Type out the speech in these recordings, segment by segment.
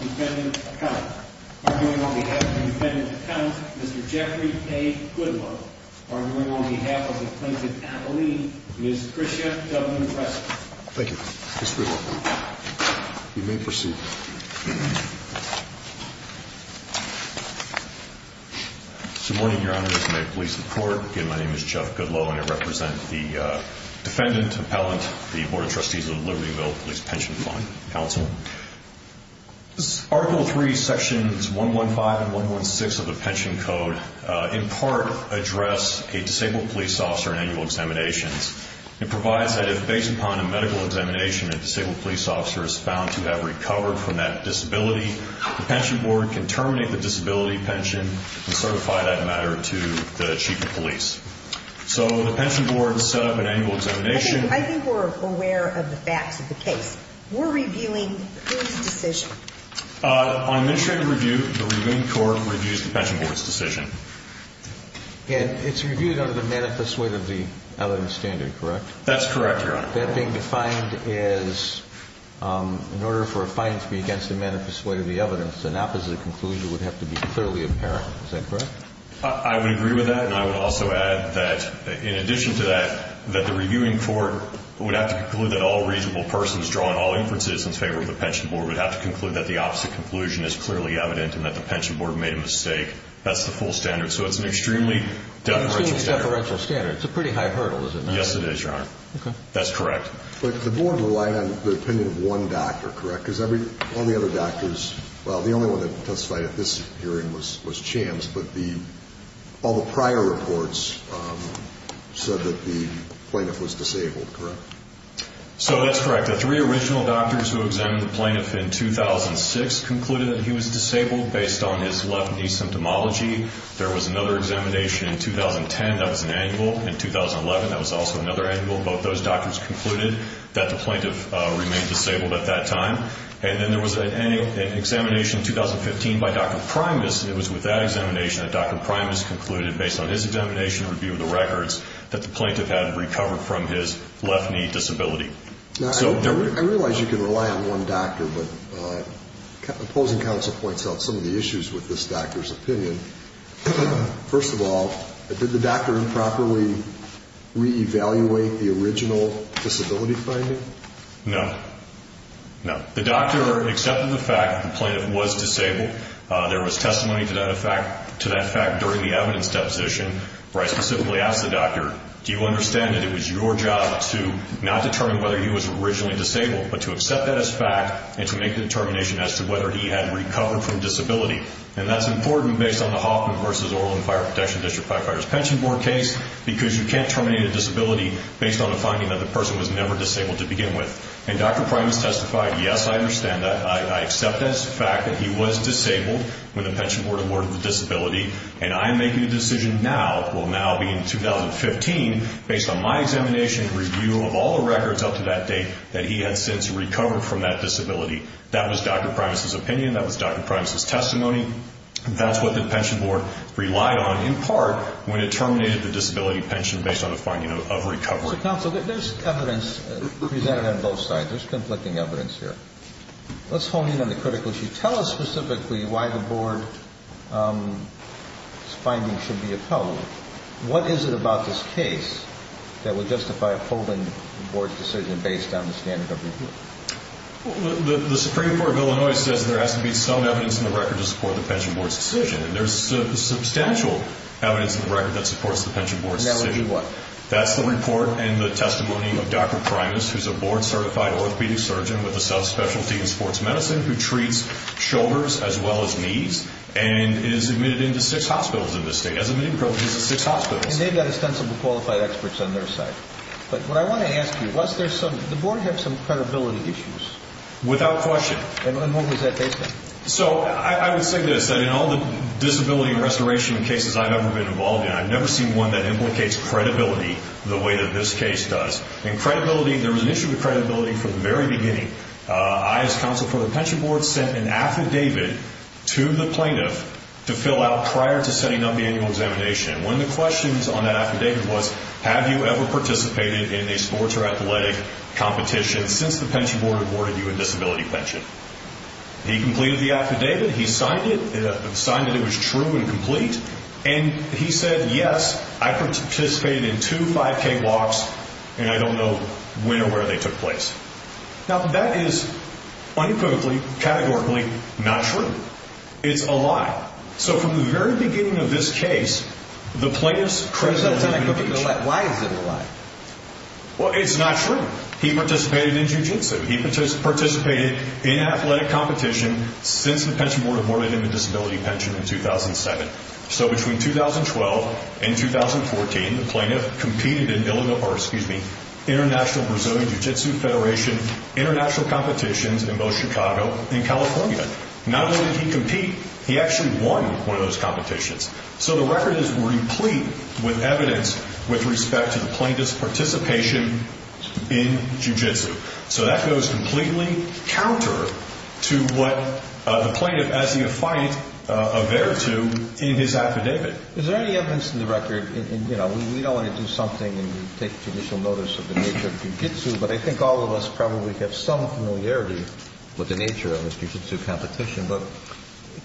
Defendant Account. Arguing on behalf of the defendant's account, Mr. Jeffrey A. Goodwill. Arguing on behalf of the plaintiff's attorney, Ms. Chrysia W. Preston. Thank you, Mr. Goodwill. You may proceed. Good morning, Your Honor. I'm here to make police report. Again, my name is Jeff Goodwill and I represent the defendant, appellant, the Board of Trustees of the Libertyville Police Pension Fund Counsel. Article 3, sections 115 and 116 of the pension code in part address a disabled police officer in annual examinations. It provides that if based upon a medical examination, a disabled police officer is found to have recovered from that disability, the pension board can terminate the disability pension and certify that matter to the chief of police. So the pension board set up an annual examination. I think we're aware of the facts of the case. We're reviewing the police decision. On administrative review, the reviewing court reviews the pension board's decision. And it's reviewed under the manifest weight of the evidence standard, correct? That's correct, Your Honor. That being defined as in order for a fine to be against the manifest weight of the evidence, an opposite conclusion would have to be clearly apparent. Is that correct? I would agree with that. And I would also add that in addition to that, that the reviewing court would have to conclude that all reasonable persons draw on all inferences in favor of the pension board would have to conclude that the opposite conclusion is clearly evident and that the pension board made a mistake. That's the full standard. So it's an extremely deferential standard. It's a pretty high hurdle, is it not? Yes, it is, Your Honor. Okay. That's correct. But the board relied on the opinion of one doctor, correct? Because all the other doctors, well, the only one that testified at this hearing was Chams. But all the prior reports said that the plaintiff was disabled, correct? So that's correct. The three original doctors who examined the plaintiff in 2006 concluded that he was disabled based on his left knee symptomology. There was another examination in 2010 that was an annual. In 2011, that was also another annual. Both those doctors concluded that the plaintiff remained disabled at that time. And then there was an examination in 2015 by Dr. Primus. It was with that examination that Dr. Primus concluded, based on his examination and review of the records, that the plaintiff had recovered from his left knee disability. I realize you can rely on one doctor, but opposing counsel points out some of the issues with this doctor's opinion. First of all, did the doctor improperly reevaluate the original disability finding? No. No. The doctor accepted the fact that the plaintiff was disabled. There was testimony to that fact during the evidence deposition where I specifically asked the doctor, do you understand that it was your job to not determine whether he was originally disabled, but to accept that as fact, and to make the determination as to whether he had recovered from disability? And that's important based on the Hoffman v. Orland Fire Protection District firefighters pension board case, because you can't terminate a disability based on the finding that the person was never disabled to begin with. And Dr. Primus testified, yes, I understand that. I accept that as a fact that he was disabled when the pension board awarded the disability. And I'm making a decision now, it will now be in 2015, based on my examination and review of all the records up to that date, that he had since recovered from that disability. That was Dr. Primus' opinion. That was Dr. Primus' testimony. That's what the pension board relied on, in part, when it terminated the disability pension based on the finding of recovery. Counsel, there's evidence presented on both sides. There's conflicting evidence here. Let's hone in on the critical issue. Tell us specifically why the board's finding should be upheld. What is it about this case that would justify upholding the board's decision based on the standard of review? The Supreme Court of Illinois says there has to be some evidence in the record to support the pension board's decision. And there's substantial evidence in the record that supports the pension board's decision. And that would be what? That's the report and the testimony of Dr. Primus, who's a board-certified orthopedic surgeon with a sub-specialty in sports medicine, who treats shoulders as well as knees, and is admitted into six hospitals in this state. Has admitted privileges at six hospitals. And they've got ostensibly qualified experts on their side. But what I want to ask you, does the board have some credibility issues? Without question. And what was that based on? So, I would say this, that in all the disability restoration cases I've ever been involved in, I've never seen one that implicates credibility the way that this case does. And credibility, there was an issue with credibility from the very beginning. I, as counsel for the pension board, sent an affidavit to the plaintiff to fill out prior to setting up the annual examination. And one of the questions on that affidavit was, have you ever participated in a sports or athletic competition since the pension board awarded you a disability pension? He completed the affidavit. He signed it. Signed that it was true and complete. And he said, yes, I participated in two 5K walks, and I don't know when or where they took place. Now, that is unequivocally, categorically, not true. It's a lie. So, from the very beginning of this case, the plaintiff's credibility... Why is it a lie? Well, it's not true. He participated in jiu-jitsu. He participated in athletic competition since the pension board awarded him a disability pension in 2007. So, between 2012 and 2014, the plaintiff competed in international Brazilian jiu-jitsu federation international competitions in both Chicago and California. Not only did he compete, he actually won one of those competitions. So, the record is replete with evidence with respect to the plaintiff's participation in jiu-jitsu. So, that goes completely counter to what the plaintiff, as the affiant, averred to in his affidavit. Is there any evidence in the record? You know, we don't want to do something and take judicial notice of the nature of jiu-jitsu, but I think all of us probably have some familiarity with the nature of the jiu-jitsu competition. But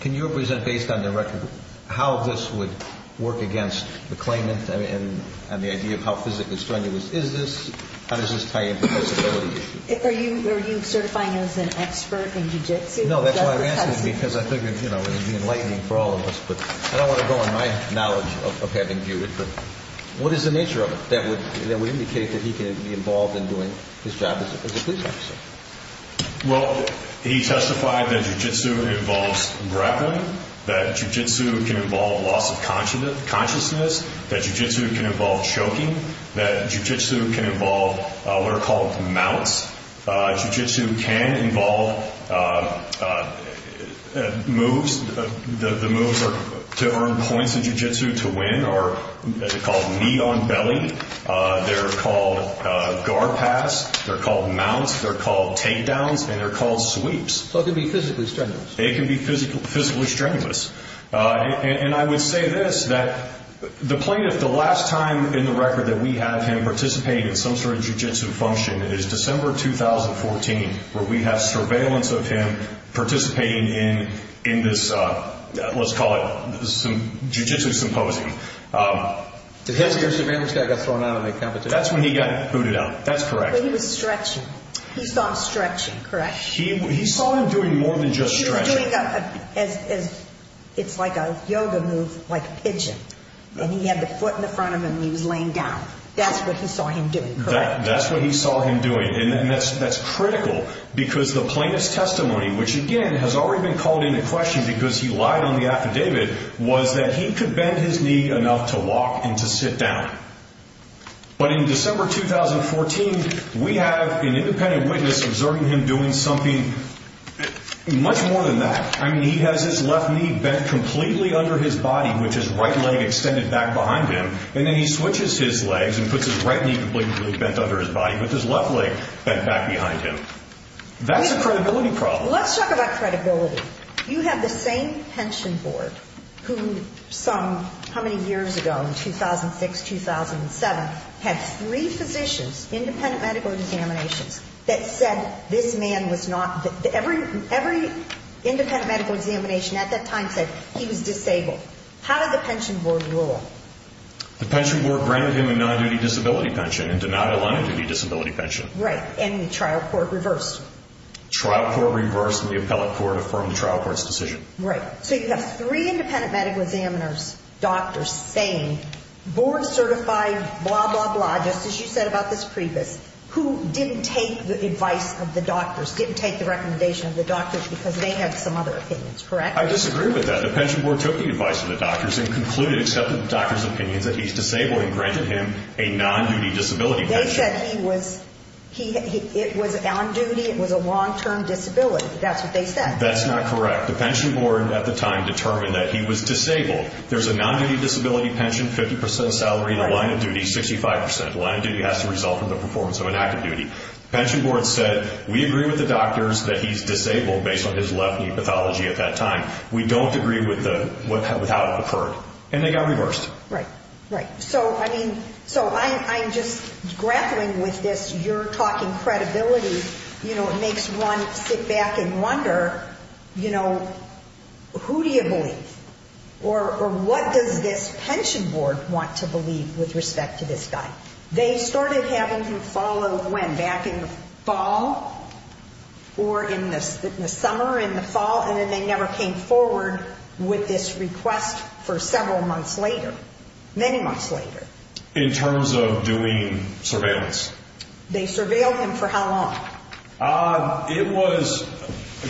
can you represent, based on the record, how this would work against the claimant and the idea of how physically strenuous is this? How does this tie into the disability issue? Are you certifying him as an expert in jiu-jitsu? No, that's why I'm asking because I figured, you know, it would be enlightening for all of us. But I don't want to go on my knowledge of having viewed it. But what is the nature of it that would indicate that he could be involved in doing his job as a police officer? Well, he testified that jiu-jitsu involves grappling, that jiu-jitsu can involve loss of consciousness, that jiu-jitsu can involve choking, that jiu-jitsu can involve what are called mounts. Jiu-jitsu can involve moves. The moves to earn points in jiu-jitsu to win are called knee on belly. They're called guard pass. They're called mounts. They're called takedowns. And they're called sweeps. So it can be physically strenuous. It can be physically strenuous. And I would say this, that the plaintiff, the last time in the record that we have him participate in some sort of jiu-jitsu function is December 2014, where we have surveillance of him participating in this, let's call it, jiu-jitsu symposium. Did his peer surveillance guy get thrown out of the competition? That's when he got booted out. That's correct. But he was stretching. He saw him stretching, correct? He saw him doing more than just stretching. It's like a yoga move, like a pigeon. And he had the foot in the front of him and he was laying down. That's what he saw him doing, correct? That's what he saw him doing. And that's critical because the plaintiff's testimony, which, again, has already been called into question because he lied on the affidavit, was that he could bend his knee enough to walk and to sit down. But in December 2014, we have an independent witness observing him doing something much more than that. I mean, he has his left knee bent completely under his body with his right leg extended back behind him, and then he switches his legs and puts his right knee completely bent under his body with his left leg bent back behind him. That's a credibility problem. Let's talk about credibility. You have the same pension board who some, how many years ago, in 2006, 2007, had three physicians, independent medical examinations, that said this man was not, every independent medical examination at that time said he was disabled. How did the pension board rule? The pension board granted him a non-duty disability pension and denied a non-duty disability pension. Right. And the trial court reversed. Trial court reversed, and the appellate court affirmed the trial court's decision. Right. So you have three independent medical examiners, doctors, saying board certified blah, blah, blah, just as you said about this previous, who didn't take the advice of the doctors, didn't take the recommendation of the doctors because they had some other opinions, correct? I disagree with that. The pension board took the advice of the doctors and concluded, accepted the doctors' opinions that he's disabled and granted him a non-duty disability pension. They said he was, it was on duty, it was a long-term disability. That's what they said. That's not correct. The pension board at the time determined that he was disabled. There's a non-duty disability pension, 50% salary in the line of duty, 65%. The line of duty has to result from the performance of an active duty. The pension board said, we agree with the doctors that he's disabled based on his left knee pathology at that time. We don't agree with how it occurred. And they got reversed. Right, right. So, I mean, so I'm just grappling with this, you're talking credibility, you know, it makes one sit back and wonder, you know, who do you believe? Or what does this pension board want to believe with respect to this guy? They started having him follow when? Back in the fall or in the summer, in the fall, and then they never came forward with this request for several months later, many months later. In terms of doing surveillance? They surveilled him for how long? It was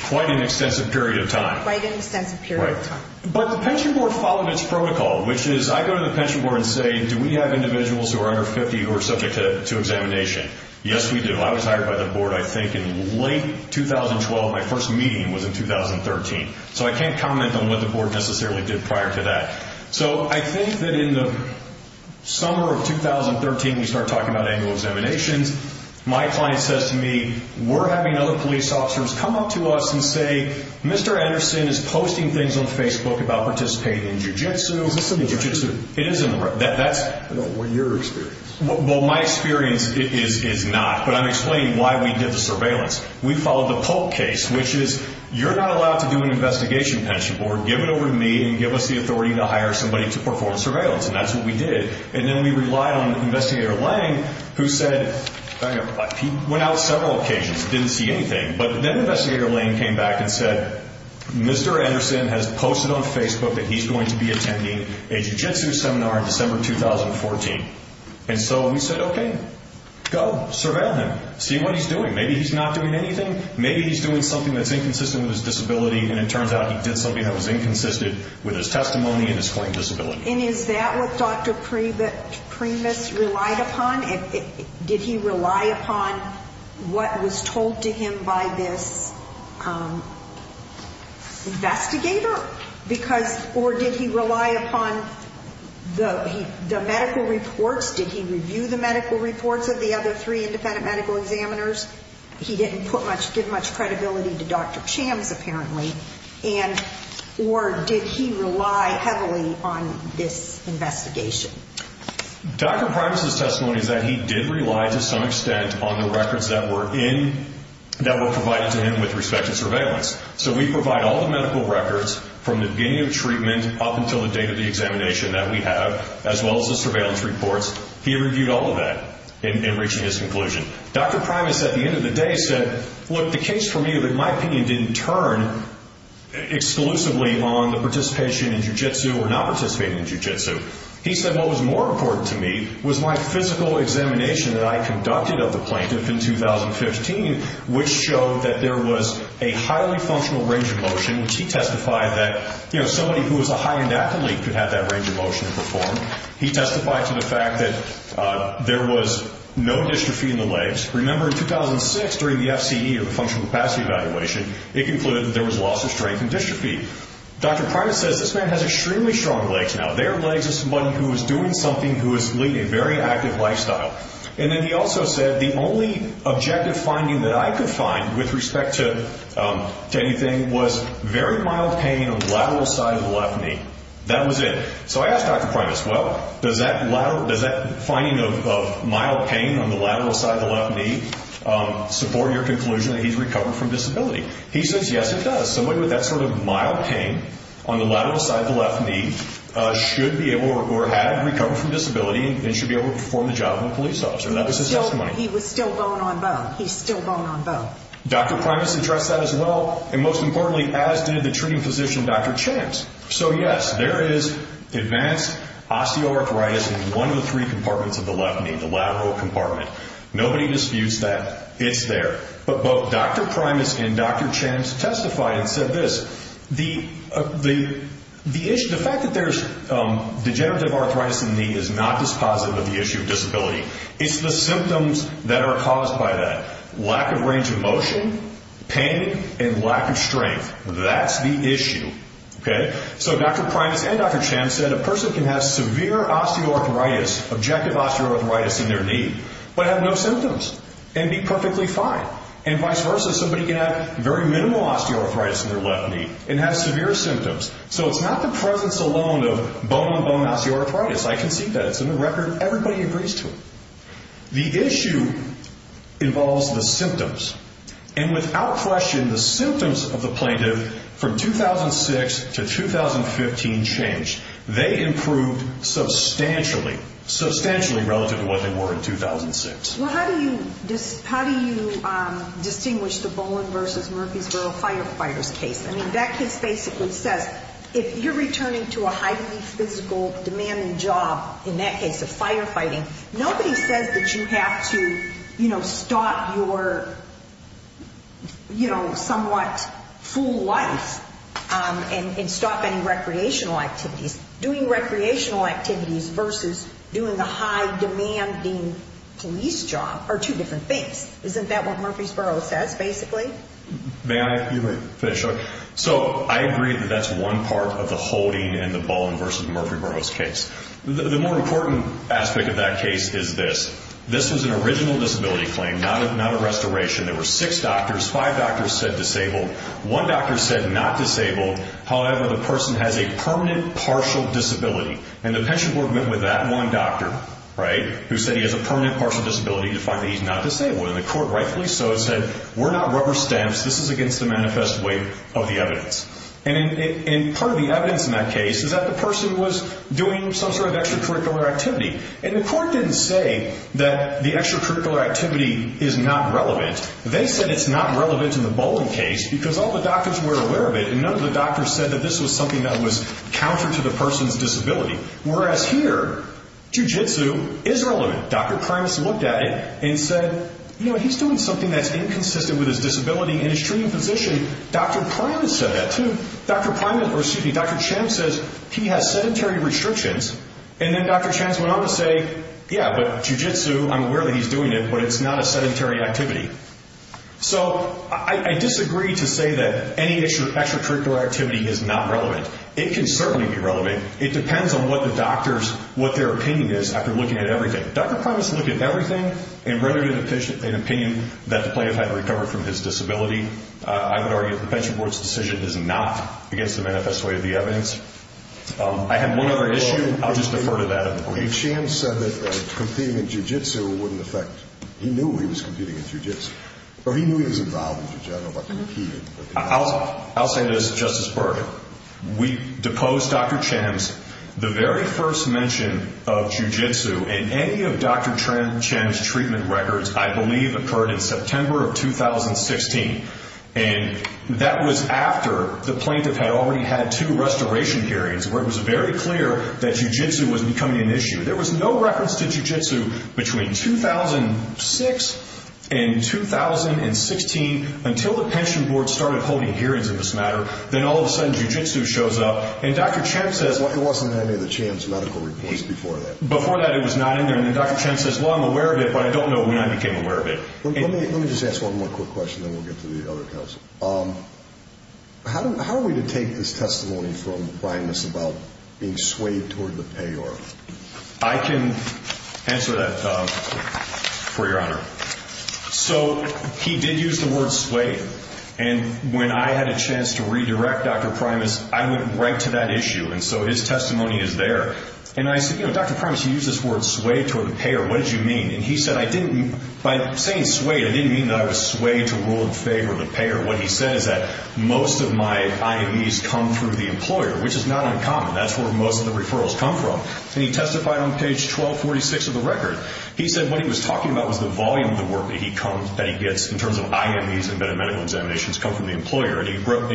quite an extensive period of time. Quite an extensive period of time. But the pension board followed its protocol, which is I go to the pension board and say, do we have individuals who are under 50 who are subject to examination? Yes, we do. I was hired by the board, I think, in late 2012. My first meeting was in 2013. So I can't comment on what the board necessarily did prior to that. So I think that in the summer of 2013, we started talking about annual examinations. My client says to me, we're having other police officers come up to us and say, Mr. Anderson is posting things on Facebook about participating in jiu-jitsu. Is this in the record? It is in the record. I don't want your experience. Well, my experience is not. But I'm explaining why we did the surveillance. We followed the Polk case, which is you're not allowed to do an investigation, pension board. Give it over to me and give us the authority to hire somebody to perform surveillance. And that's what we did. And then we relied on Investigator Lang, who said he went out several occasions, didn't see anything. But then Investigator Lang came back and said, Mr. Anderson has posted on Facebook that he's going to be attending a jiu-jitsu seminar in December 2014. And so we said, okay, go, surveil him. See what he's doing. Maybe he's not doing anything. Maybe he's doing something that's inconsistent with his disability, and it turns out he did something that was inconsistent with his testimony and his claimed disability. And is that what Dr. Primus relied upon? Did he rely upon what was told to him by this investigator? Or did he rely upon the medical reports? Did he review the medical reports of the other three independent medical examiners? He didn't give much credibility to Dr. Chams, apparently. Or did he rely heavily on this investigation? Dr. Primus' testimony is that he did rely to some extent on the records that were provided to him with respect to surveillance. So we provide all the medical records from the beginning of treatment up until the date of the examination that we have, as well as the surveillance reports. He reviewed all of that in reaching his conclusion. Dr. Primus, at the end of the day, said, look, the case for me, my opinion didn't turn exclusively on the participation in jiu-jitsu or not participating in jiu-jitsu. He said what was more important to me was my physical examination that I conducted of the plaintiff in 2015, which showed that there was a highly functional range of motion, which he testified that somebody who was a high-end athlete could have that range of motion to perform. He testified to the fact that there was no dystrophy in the legs. Remember, in 2006, during the FCE, or the functional capacity evaluation, it concluded that there was loss of strength and dystrophy. Dr. Primus says this man has extremely strong legs now. Their legs are somebody who is doing something who is leading a very active lifestyle. Then he also said the only objective finding that I could find with respect to anything was very mild pain on the lateral side of the left knee. That was it. I asked Dr. Primus, well, does that finding of mild pain on the lateral side of the left knee support your conclusion that he's recovered from disability? He says, yes, it does. Somebody with that sort of mild pain on the lateral side of the left knee should be able or had recovered from disability and should be able to perform the job of a police officer. That was his testimony. He was still bone on bone. He's still bone on bone. Dr. Primus addressed that as well, and most importantly, as did the treating physician, Dr. Champs. So, yes, there is advanced osteoarthritis in one of the three compartments of the left knee, the lateral compartment. Nobody disputes that it's there. But both Dr. Primus and Dr. Champs testified and said this. The fact that there's degenerative arthritis in the knee is not dispositive of the issue of disability. It's the symptoms that are caused by that. Lack of range of motion, pain, and lack of strength. That's the issue. So Dr. Primus and Dr. Champs said a person can have severe osteoarthritis, objective osteoarthritis in their knee, but have no symptoms and be perfectly fine. And vice versa, somebody can have very minimal osteoarthritis in their left knee and have severe symptoms. So it's not the presence alone of bone on bone osteoarthritis. I concede that. It's in the record. Everybody agrees to it. The issue involves the symptoms. And without question, the symptoms of the plaintiff from 2006 to 2015 changed. They improved substantially, substantially relative to what they were in 2006. Well, how do you distinguish the Bowling v. Murfreesboro firefighters case? I mean, that case basically says if you're returning to a highly physical, demanding job, in that case of firefighting, nobody says that you have to, you know, stop your, you know, somewhat full life and stop any recreational activities. Doing recreational activities versus doing the high-demanding police job are two different things. Isn't that what Murfreesboro says, basically? May I finish? So I agree that that's one part of the holding in the Bowling v. Murfreesboro case. The more important aspect of that case is this. This was an original disability claim, not a restoration. There were six doctors. Five doctors said disabled. One doctor said not disabled. However, the person has a permanent partial disability. And the pension board went with that one doctor, right, who said he has a permanent partial disability to find that he's not disabled. And the court rightfully so said, we're not rubber stamps. This is against the manifest way of the evidence. And part of the evidence in that case is that the person was doing some sort of extracurricular activity. And the court didn't say that the extracurricular activity is not relevant. They said it's not relevant in the Bowling case because all the doctors were aware of it. And none of the doctors said that this was something that was counter to the person's disability. Whereas here, jujitsu is relevant. Dr. Primus looked at it and said, you know, he's doing something that's inconsistent with his disability in his treating position. Dr. Primus said that too. Dr. Primus, or excuse me, Dr. Champ says he has sedentary restrictions. And then Dr. Champ went on to say, yeah, but jujitsu, I'm aware that he's doing it, but it's not a sedentary activity. So I disagree to say that any extracurricular activity is not relevant. It can certainly be relevant. It depends on what the doctor's, what their opinion is after looking at everything. Dr. Primus looked at everything and rather than an opinion that the plaintiff had recovered from his disability, I would argue that the pension board's decision is not against the manifest way of the evidence. I have one other issue. I'll just defer to that. Dr. Champ said that competing in jujitsu wouldn't affect. He knew he was competing in jujitsu. Or he knew he was involved in jujitsu. I'll say this, Justice Berger. We deposed Dr. Champ. The very first mention of jujitsu in any of Dr. Champ's treatment records, I believe, occurred in September of 2016. And that was after the plaintiff had already had two restoration hearings where it was very clear that jujitsu was becoming an issue. There was no records to jujitsu between 2006 and 2016 until the pension board started holding hearings in this matter. Then all of a sudden jujitsu shows up. And Dr. Champ says. It wasn't in any of the Champ's medical reports before that. Before that it was not in there. And Dr. Champ says, well, I'm aware of it, but I don't know when I became aware of it. Let me just ask one more quick question, then we'll get to the other counsel. How are we to take this testimony from Primus about being swayed toward the payer? I can answer that for your honor. So he did use the word swayed. And when I had a chance to redirect Dr. Primus, I went right to that issue. And so his testimony is there. And I said, you know, Dr. Primus, you used this word swayed toward the payer. What did you mean? And he said, by saying swayed, I didn't mean that I was swayed toward or in favor of the payer. What he said is that most of my IMEs come through the employer, which is not uncommon. That's where most of the referrals come from. And he testified on page 1246 of the record. He said what he was talking about was the volume of the work that he gets in terms of IMEs and medical examinations come from the employer. And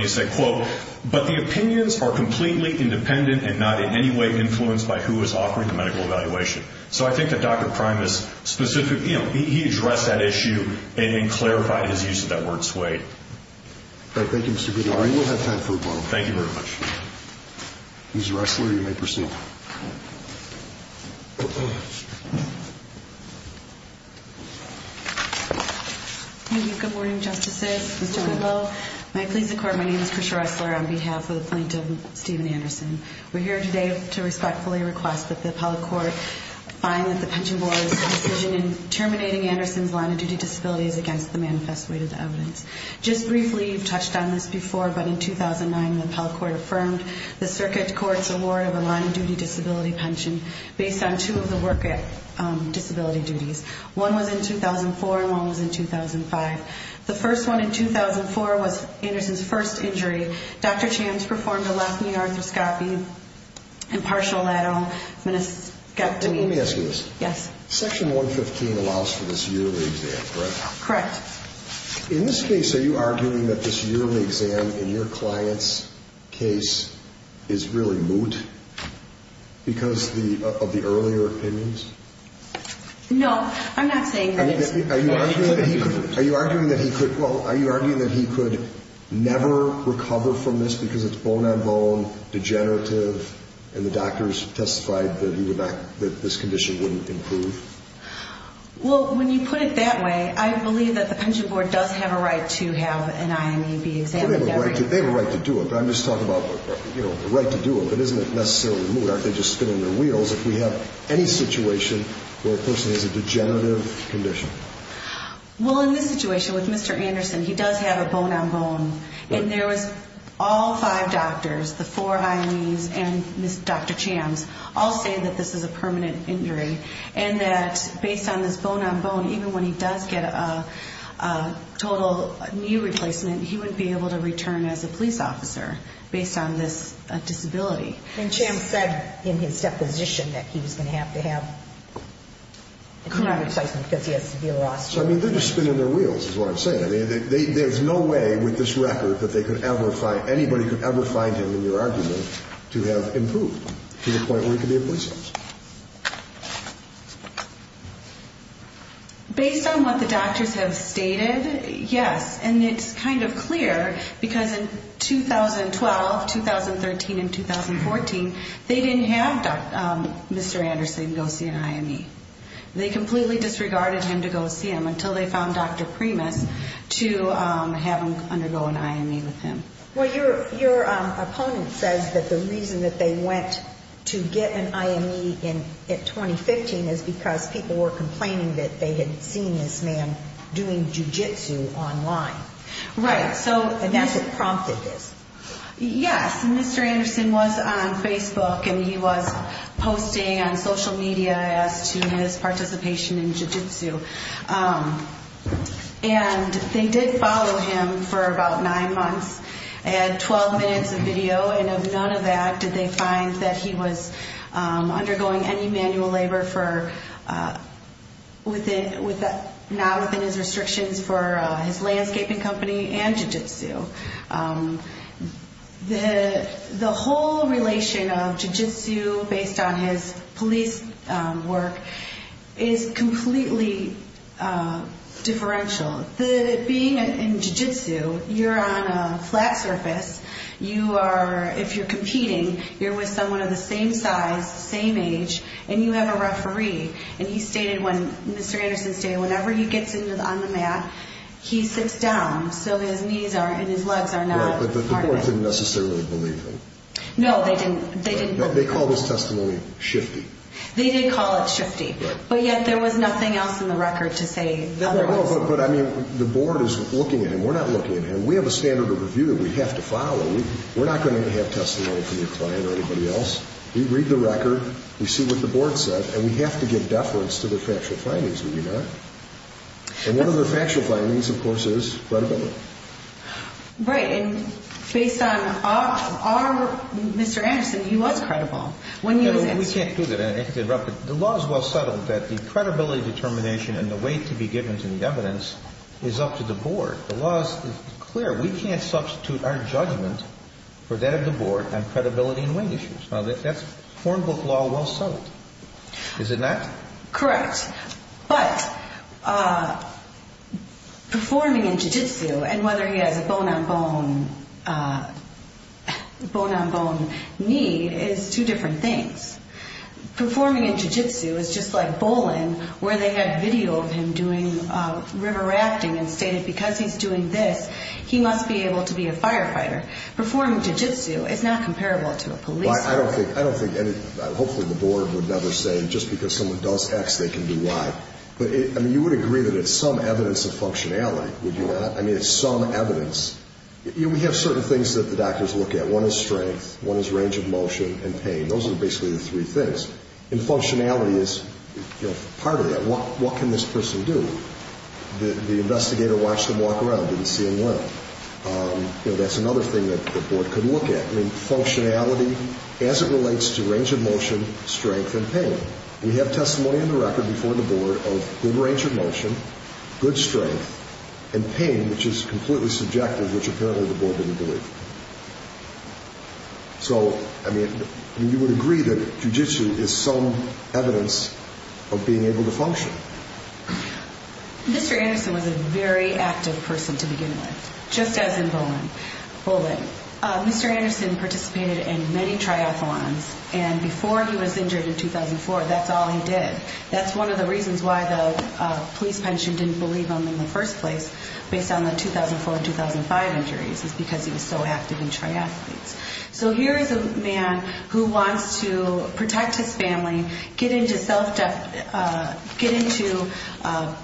he said, quote, but the opinions are completely independent and not in any way influenced by who is offering the medical evaluation. So I think that Dr. Primus specifically, you know, he addressed that issue and clarified his use of that word swayed. All right. Thank you, Mr. Goodenow. We will have time for one more. Thank you very much. Ms. Ressler, you may proceed. Good morning, Justices. Mr. Goodenow, may I please record my name is Krisha Ressler on behalf of the plaintiff, Stephen Anderson. We're here today to respectfully request that the appellate court find that the pension board's decision in terminating Anderson's line-of-duty disability is against the manifest way to the evidence. Just briefly, you've touched on this before, but in 2009, the appellate court affirmed the circuit court's award of a line-of-duty disability pension based on two of the work disability duties. One was in 2004 and one was in 2005. The first one in 2004 was Anderson's first injury. Dr. Chams performed a left knee arthroscopy and partial lateral meniscectomy. Let me ask you this. Yes. Section 115 allows for this yearly exam, correct? Correct. In this case, are you arguing that this yearly exam in your client's case is really moot because of the earlier opinions? No, I'm not saying that it's moot. Are you arguing that he could never recover from this because it's bone-on-bone, degenerative, and the doctors testified that this condition wouldn't improve? Well, when you put it that way, I believe that the pension board does have a right to have an IME be examined every year. They have a right to do it, but I'm just talking about the right to do it. It isn't necessarily moot. If we have any situation where a person has a degenerative condition. Well, in this situation with Mr. Anderson, he does have a bone-on-bone. And there was all five doctors, the four IMEs and Dr. Chams, all saying that this is a permanent injury and that based on this bone-on-bone, even when he does get a total knee replacement, he wouldn't be able to return as a police officer based on this disability. And Chams said in his deposition that he was going to have to have an IME replacement because he has severe osteoarthritis. I mean, they're just spinning their wheels is what I'm saying. I mean, there's no way with this record that they could ever find, anybody could ever find him in your argument to have improved to the point where he could be a police officer. Based on what the doctors have stated, yes. And it's kind of clear because in 2012, 2013, and 2014, they didn't have Mr. Anderson go see an IME. They completely disregarded him to go see him until they found Dr. Primus to have him undergo an IME with him. Well, your opponent says that the reason that they went to get an IME in 2015 is because people were complaining that they had seen this man doing jiu-jitsu online. Right. And that's what prompted this. Yes. And Mr. Anderson was on Facebook and he was posting on social media as to his participation in jiu-jitsu. And they did follow him for about nine months. They had 12 minutes of video and of none of that did they find that he was undergoing any manual labor for within, not within his restrictions for his landscaping company and jiu-jitsu. The whole relation of jiu-jitsu based on his police work is completely differential. Being in jiu-jitsu, you're on a flat surface. You are, if you're competing, you're with someone of the same size, same age, and you have a referee. And he stated on Mr. Anderson's day, whenever he gets on the mat, he sits down so his knees and his legs are not harnessed. But the board didn't necessarily believe him. No, they didn't. They called his testimony shifty. They did call it shifty. But yet there was nothing else in the record to say otherwise. No, but I mean, the board is looking at him. We're not looking at him. We have a standard of review that we have to follow. We're not going to have testimony from your client or anybody else. We read the record, we see what the board said, and we have to give deference to their factual findings. We do not. And one of their factual findings, of course, is credibility. Right, and based on our Mr. Anderson, he was credible when he was in. We can't do that. The law is well settled that the credibility determination and the weight to be given to the evidence is up to the board. The law is clear. We can't substitute our judgment for that of the board on credibility and weight issues. Now, that's foreign book law well settled, is it not? Correct. But performing in jiu-jitsu and whether he has a bone-on-bone need is two different things. Performing in jiu-jitsu is just like bowling where they had video of him doing river rafting and stated because he's doing this, he must be able to be a firefighter. Performing in jiu-jitsu is not comparable to a police officer. I don't think any – hopefully the board would never say just because someone does X, they can do Y. But, I mean, you would agree that it's some evidence of functionality, would you not? I mean, it's some evidence. We have certain things that the doctors look at. One is strength. One is range of motion and pain. Those are basically the three things. And functionality is part of that. What can this person do? The investigator watched him walk around, didn't see him well. That's another thing that the board could look at. I mean, functionality as it relates to range of motion, strength, and pain. We have testimony on the record before the board of good range of motion, good strength, and pain, which is completely subjective, which apparently the board didn't believe. So, I mean, you would agree that jiu-jitsu is some evidence of being able to function. Mr. Anderson was a very active person to begin with, just as in Bowling. Mr. Anderson participated in many triathlons, and before he was injured in 2004, that's all he did. That's one of the reasons why the police pension didn't believe him in the first place, based on the 2004 and 2005 injuries, is because he was so active in triathletes. So here is a man who wants to protect his family, get into self-defense, get into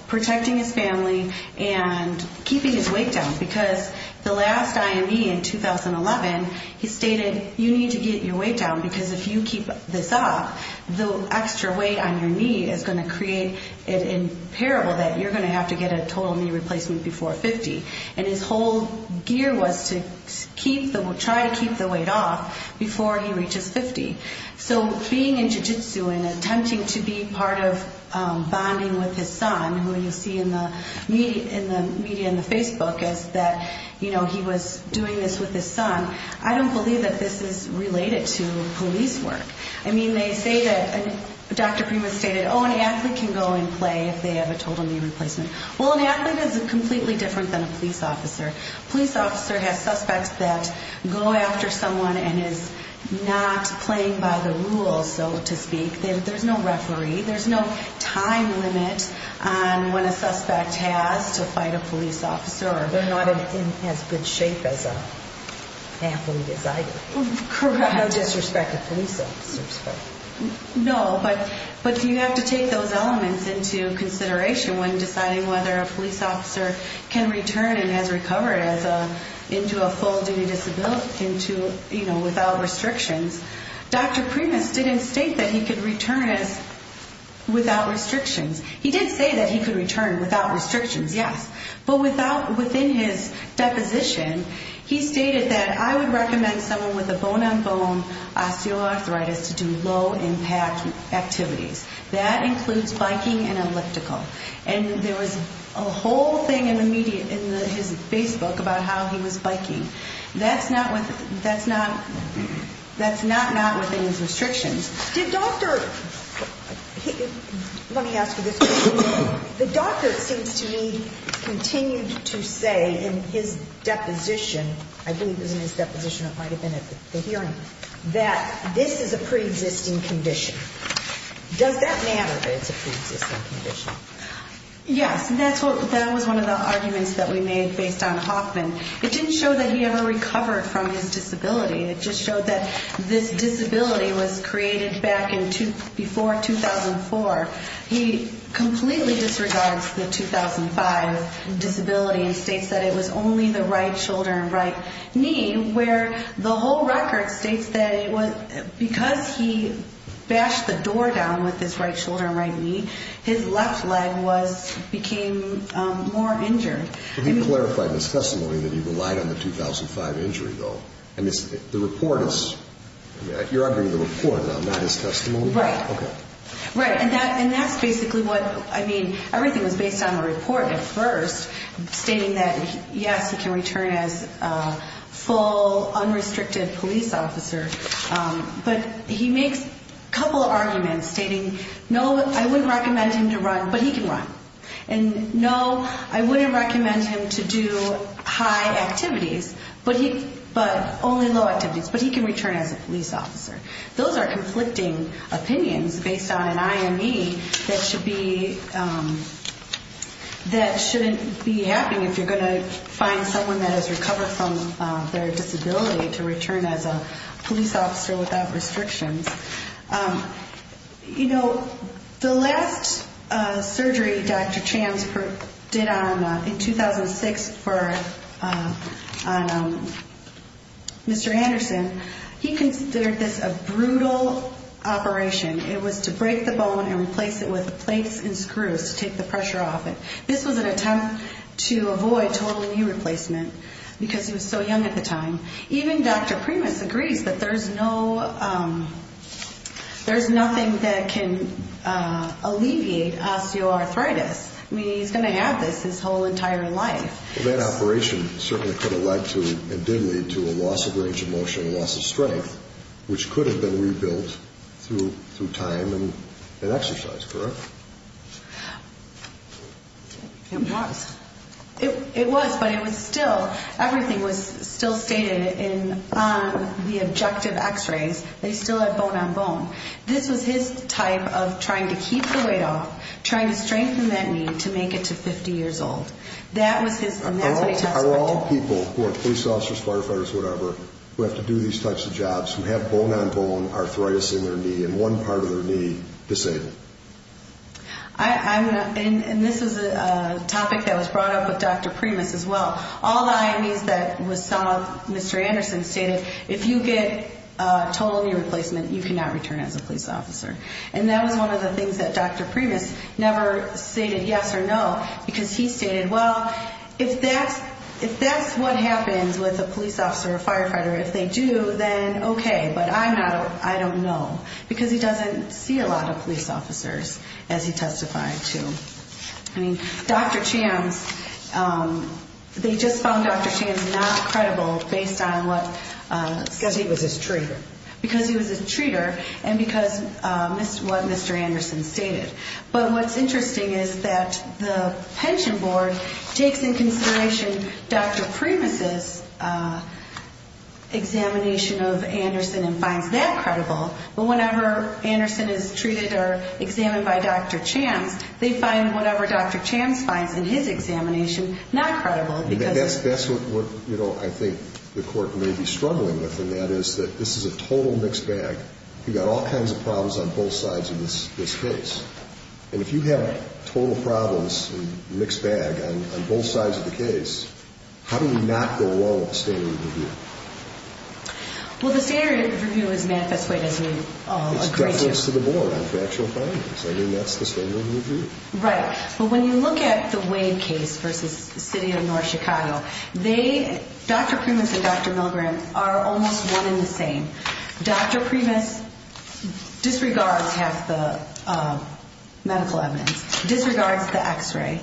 protecting his family, and keeping his weight down, because the last IME in 2011, he stated, you need to get your weight down, because if you keep this up, the extra weight on your knee is going to create an impairment that you're going to have to get a total knee replacement before 50. And his whole gear was to try to keep the weight off before he reaches 50. So being in jiu-jitsu and attempting to be part of bonding with his son, who you see in the media and the Facebook is that, you know, he was doing this with his son, I don't believe that this is related to police work. I mean, they say that, Dr. Prima stated, oh, an athlete can go and play if they have a total knee replacement. Well, an athlete is completely different than a police officer. A police officer has suspects that go after someone and is not playing by the rules, so to speak. There's no referee. There's no time limit on when a suspect has to fight a police officer. They're not in as good shape as an athlete is either. Correct. No disrespected police officers. No, but you have to take those elements into consideration when deciding whether a police officer can return and has recovered into a full disability without restrictions. Dr. Primus didn't state that he could return without restrictions. He did say that he could return without restrictions, yes, but within his deposition, he stated that I would recommend someone with a bone-on-bone osteoarthritis to do low-impact activities. That includes biking and elliptical. And there was a whole thing in the media, in his Facebook, about how he was biking. That's not within his restrictions. Let me ask you this question. The doctor, it seems to me, continued to say in his deposition, I believe it was in his deposition, it might have been at the hearing, that this is a preexisting condition. Does that matter that it's a preexisting condition? Yes, that was one of the arguments that we made based on Hoffman. It didn't show that he ever recovered from his disability. It just showed that this disability was created back before 2004. He completely disregards the 2005 disability and states that it was only the right shoulder and right knee, where the whole record states that because he bashed the door down with his right shoulder and right knee, his left leg became more injured. He clarified in his testimony that he relied on the 2005 injury, though. You're arguing the report, not his testimony? Right. Okay. Right. And that's basically what, I mean, everything was based on the report at first, stating that, yes, he can return as a full, unrestricted police officer. But he makes a couple of arguments, stating, no, I wouldn't recommend him to run, but he can run. And, no, I wouldn't recommend him to do high activities, but only low activities, but he can return as a police officer. Those are conflicting opinions based on an IME that shouldn't be happening if you're going to find someone that has recovered from their disability to return as a police officer without restrictions. You know, the last surgery Dr. Chams did in 2006 for Mr. Anderson, he considered this a brutal operation. It was to break the bone and replace it with plates and screws to take the pressure off it. This was an attempt to avoid total knee replacement because he was so young at the time. Even Dr. Primus agrees that there's nothing that can alleviate osteoarthritis. I mean, he's going to have this his whole entire life. That operation certainly could have led to, and did lead to, a loss of range of motion, a loss of strength, which could have been rebuilt through time and exercise, correct? It was. It was, but it was still, everything was still stated in the objective x-rays. They still had bone on bone. This was his type of trying to keep the weight off, trying to strengthen that knee to make it to 50 years old. That was his, and that's what he talks about. Are all people who are police officers, firefighters, whatever, who have to do these types of jobs, who have bone on bone arthritis in their knee and one part of their knee disabled? I'm going to, and this was a topic that was brought up with Dr. Primus as well. All the IMEs that saw Mr. Anderson stated, if you get total knee replacement, you cannot return as a police officer. And that was one of the things that Dr. Primus never stated yes or no because he stated, well, if that's what happens with a police officer or firefighter, if they do, then okay, but I'm not, I don't know. Because he doesn't see a lot of police officers as he testified to. I mean, Dr. Chams, they just found Dr. Chams not credible based on what. Because he was his treater. Because he was his treater and because what Mr. Anderson stated. But what's interesting is that the pension board takes in consideration Dr. Primus' examination of Anderson and finds that credible. But whenever Anderson is treated or examined by Dr. Chams, they find whatever Dr. Chams finds in his examination not credible. That's what I think the court may be struggling with and that is that this is a total mixed bag. You've got all kinds of problems on both sides of this case. And if you have total problems and mixed bag on both sides of the case, how do we not go along with the standard of review? Well, the standard of review is manifest weight as we've all agreed to. It's deference to the board on factual findings. I mean, that's the standard of review. Right. But when you look at the Wade case versus the city of North Chicago, they, Dr. Primus and Dr. Milgram are almost one in the same. Dr. Primus disregards half the medical evidence, disregards the x-ray,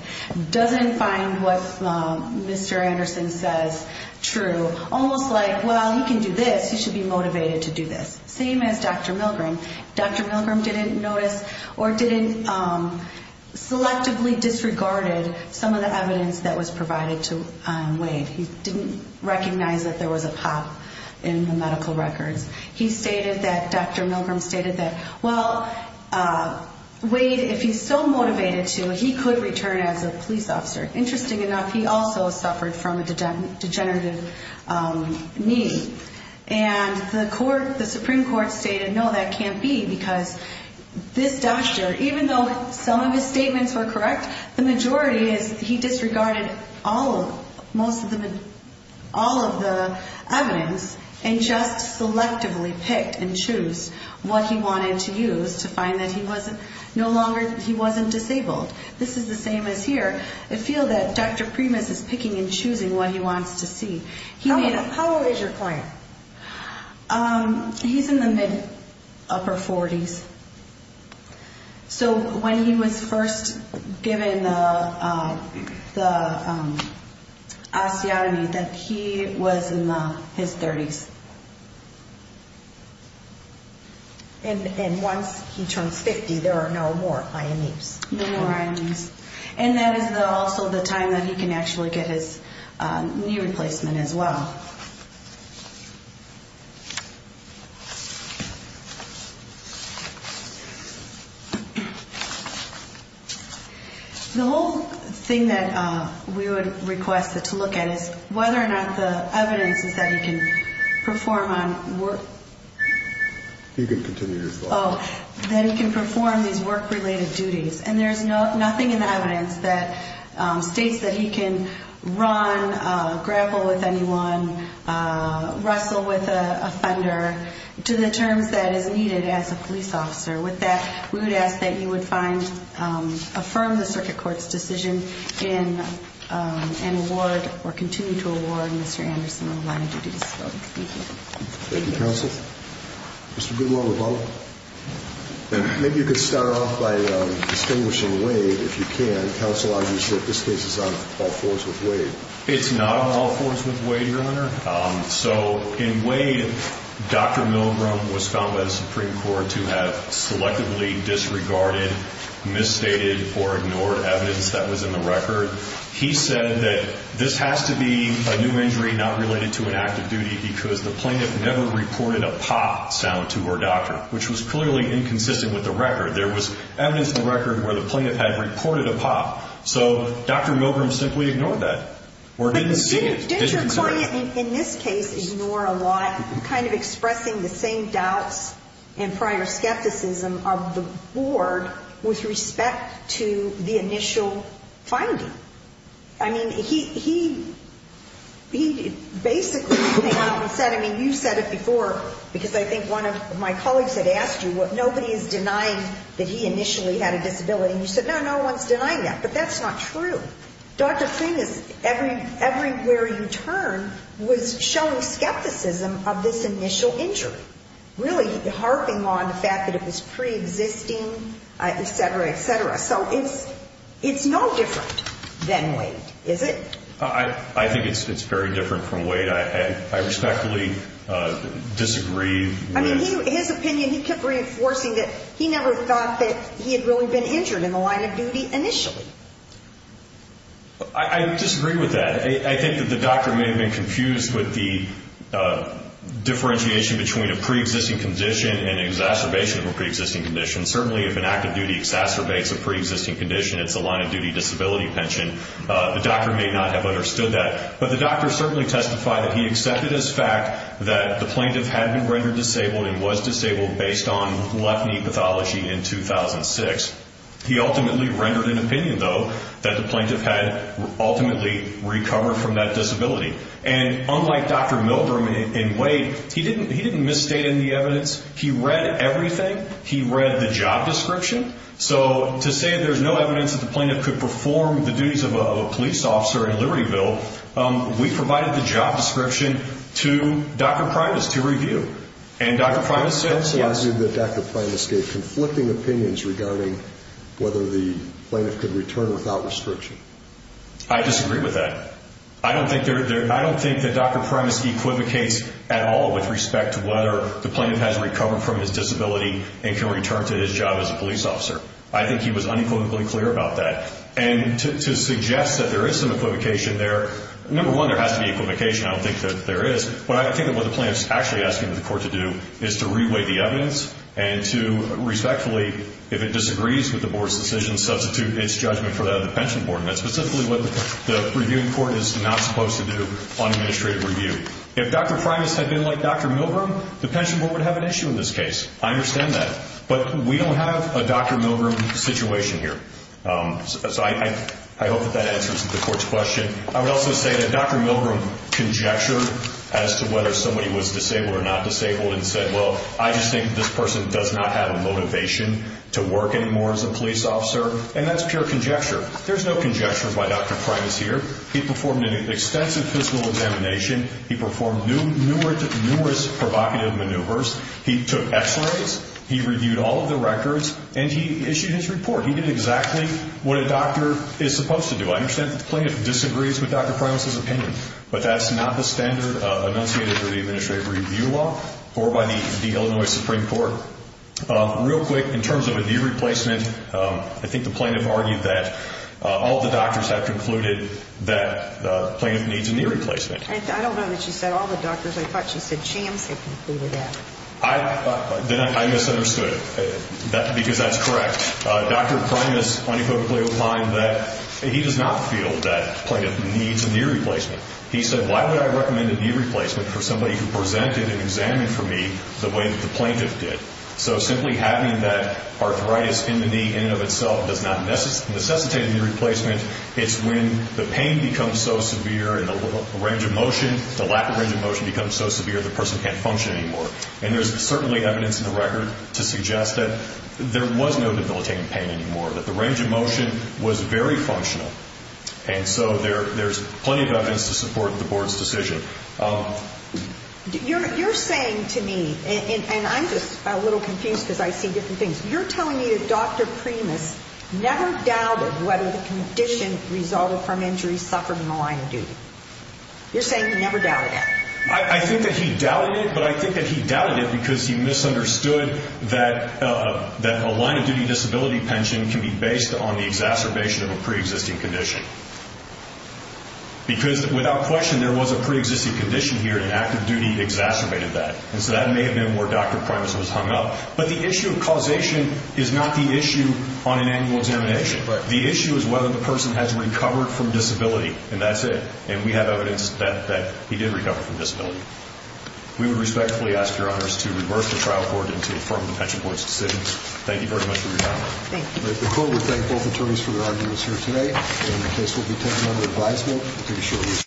doesn't find what Mr. Anderson says true. Almost like, well, he can do this, he should be motivated to do this. Same as Dr. Milgram. Dr. Milgram didn't notice or didn't selectively disregarded some of the evidence that was provided to Wade. He didn't recognize that there was a pop in the medical records. He stated that, Dr. Milgram stated that, well, Wade, if he's so motivated to, he could return as a police officer. Interesting enough, he also suffered from a degenerative knee. And the Supreme Court stated, no, that can't be because this doctor, even though some of his statements were correct, the majority is he disregarded all of the evidence and just selectively picked and chose what he wanted to use to find that he wasn't disabled. This is the same as here. I feel that Dr. Primus is picking and choosing what he wants to see. How old is your client? He's in the mid-upper 40s. So when he was first given the osteotomy, he was in his 30s. And once he turns 50, there are no more IMEs. No more IMEs. And that is also the time that he can actually get his knee replacement as well. The whole thing that we would request to look at is whether or not the evidence is that he can perform on work. He can continue his work. Oh, that he can perform these work-related duties. And there's nothing in the evidence that states that he can run, grapple with anyone, wrestle with a offender, to the terms that is needed as a police officer. With that, we would ask that you would find, affirm the circuit court's decision and award or continue to award Mr. Anderson a line of duties. Thank you, counsel. Mr. Goodwell-Levone? Maybe you could start off by distinguishing Wade, if you can. Counsel argues that this case is on all fours with Wade. It's not on all fours with Wade, Your Honor. So in Wade, Dr. Milgram was found by the Supreme Court to have selectively disregarded, misstated, or ignored evidence that was in the record. He said that this has to be a new injury not related to an act of duty because the plaintiff never reported a pop sound to her doctor, which was clearly inconsistent with the record. There was evidence in the record where the plaintiff had reported a pop. So Dr. Milgram simply ignored that or didn't see it. Didn't your client in this case ignore a lot, kind of expressing the same doubts and prior skepticism of the board with respect to the initial finding? I mean, he basically came out and said, I mean, you said it before because I think one of my colleagues had asked you, nobody is denying that he initially had a disability. And you said, no, no one's denying that. But that's not true. Dr. Freeman, everywhere you turn, was showing skepticism of this initial injury, really harping on the fact that it was preexisting, et cetera, et cetera. So it's no different than Wade, is it? I think it's very different from Wade. I respectfully disagree with – I mean, his opinion, he kept reinforcing that he never thought that he had really been injured in the line of duty initially. I disagree with that. I think that the doctor may have been confused with the differentiation between a preexisting condition and exacerbation of a preexisting condition. Certainly, if an act of duty exacerbates a preexisting condition, it's a line of duty disability pension. The doctor may not have understood that. But the doctor certainly testified that he accepted as fact that the plaintiff had been rendered disabled and was disabled based on left knee pathology in 2006. He ultimately rendered an opinion, though, that the plaintiff had ultimately recovered from that disability. And unlike Dr. Milgram and Wade, he didn't misstate any evidence. He read everything. He read the job description. So to say there's no evidence that the plaintiff could perform the duties of a police officer in Libertyville, we provided the job description to Dr. Primus to review. And Dr. Primus said yes. I also assume that Dr. Primus gave conflicting opinions regarding whether the plaintiff could return without restriction. I disagree with that. I don't think that Dr. Primus equivocates at all with respect to whether the plaintiff has recovered from his disability and can return to his job as a police officer. I think he was unequivocally clear about that. And to suggest that there is some equivocation there, number one, there has to be equivocation. I don't think that there is. I think that what the plaintiff is actually asking the court to do is to reweigh the evidence and to respectfully, if it disagrees with the board's decision, substitute its judgment for that of the pension board. And that's specifically what the reviewing court is not supposed to do on administrative review. If Dr. Primus had been like Dr. Milgram, the pension board would have an issue in this case. I understand that. But we don't have a Dr. Milgram situation here. So I hope that that answers the court's question. I would also say that Dr. Milgram conjectured as to whether somebody was disabled or not disabled and said, well, I just think this person does not have a motivation to work anymore as a police officer. And that's pure conjecture. There's no conjecture by Dr. Primus here. He performed an extensive physical examination. He performed numerous provocative maneuvers. He took x-rays. He reviewed all of the records. And he issued his report. He did exactly what a doctor is supposed to do. I understand that the plaintiff disagrees with Dr. Primus' opinion, but that's not the standard enunciated for the administrative review law or by the Illinois Supreme Court. Real quick, in terms of a knee replacement, I think the plaintiff argued that all the doctors have concluded that the plaintiff needs a knee replacement. I don't know that she said all the doctors. I thought she said CHAMS had concluded that. Then I misunderstood it because that's correct. Dr. Primus unequivocally opined that he does not feel that the plaintiff needs a knee replacement. He said, why would I recommend a knee replacement for somebody who presented and examined for me the way that the plaintiff did? So simply having that arthritis in the knee in and of itself does not necessitate a knee replacement. It's when the pain becomes so severe and the range of motion, the lack of range of motion becomes so severe the person can't function anymore. And there's certainly evidence in the record to suggest that there was no debilitating pain anymore, that the range of motion was very functional. And so there's plenty of evidence to support the board's decision. You're saying to me, and I'm just a little confused because I see different things, you're telling me that Dr. Primus never doubted whether the condition resulted from injury suffered in the line of duty. You're saying he never doubted it. I think that he doubted it, but I think that he doubted it because he misunderstood that a line of duty disability pension can be based on the exacerbation of a preexisting condition. Because without question there was a preexisting condition here and active duty exacerbated that. And so that may have been where Dr. Primus was hung up. But the issue of causation is not the issue on an annual examination. The issue is whether the person has recovered from disability, and that's it. And we have evidence that he did recover from disability. We would respectfully ask your honors to reverse the trial court and to affirm the pension board's decisions. Thank you very much for your time. Thank you. The court would thank both attorneys for their arguments here today. And the case will be taken under advisement.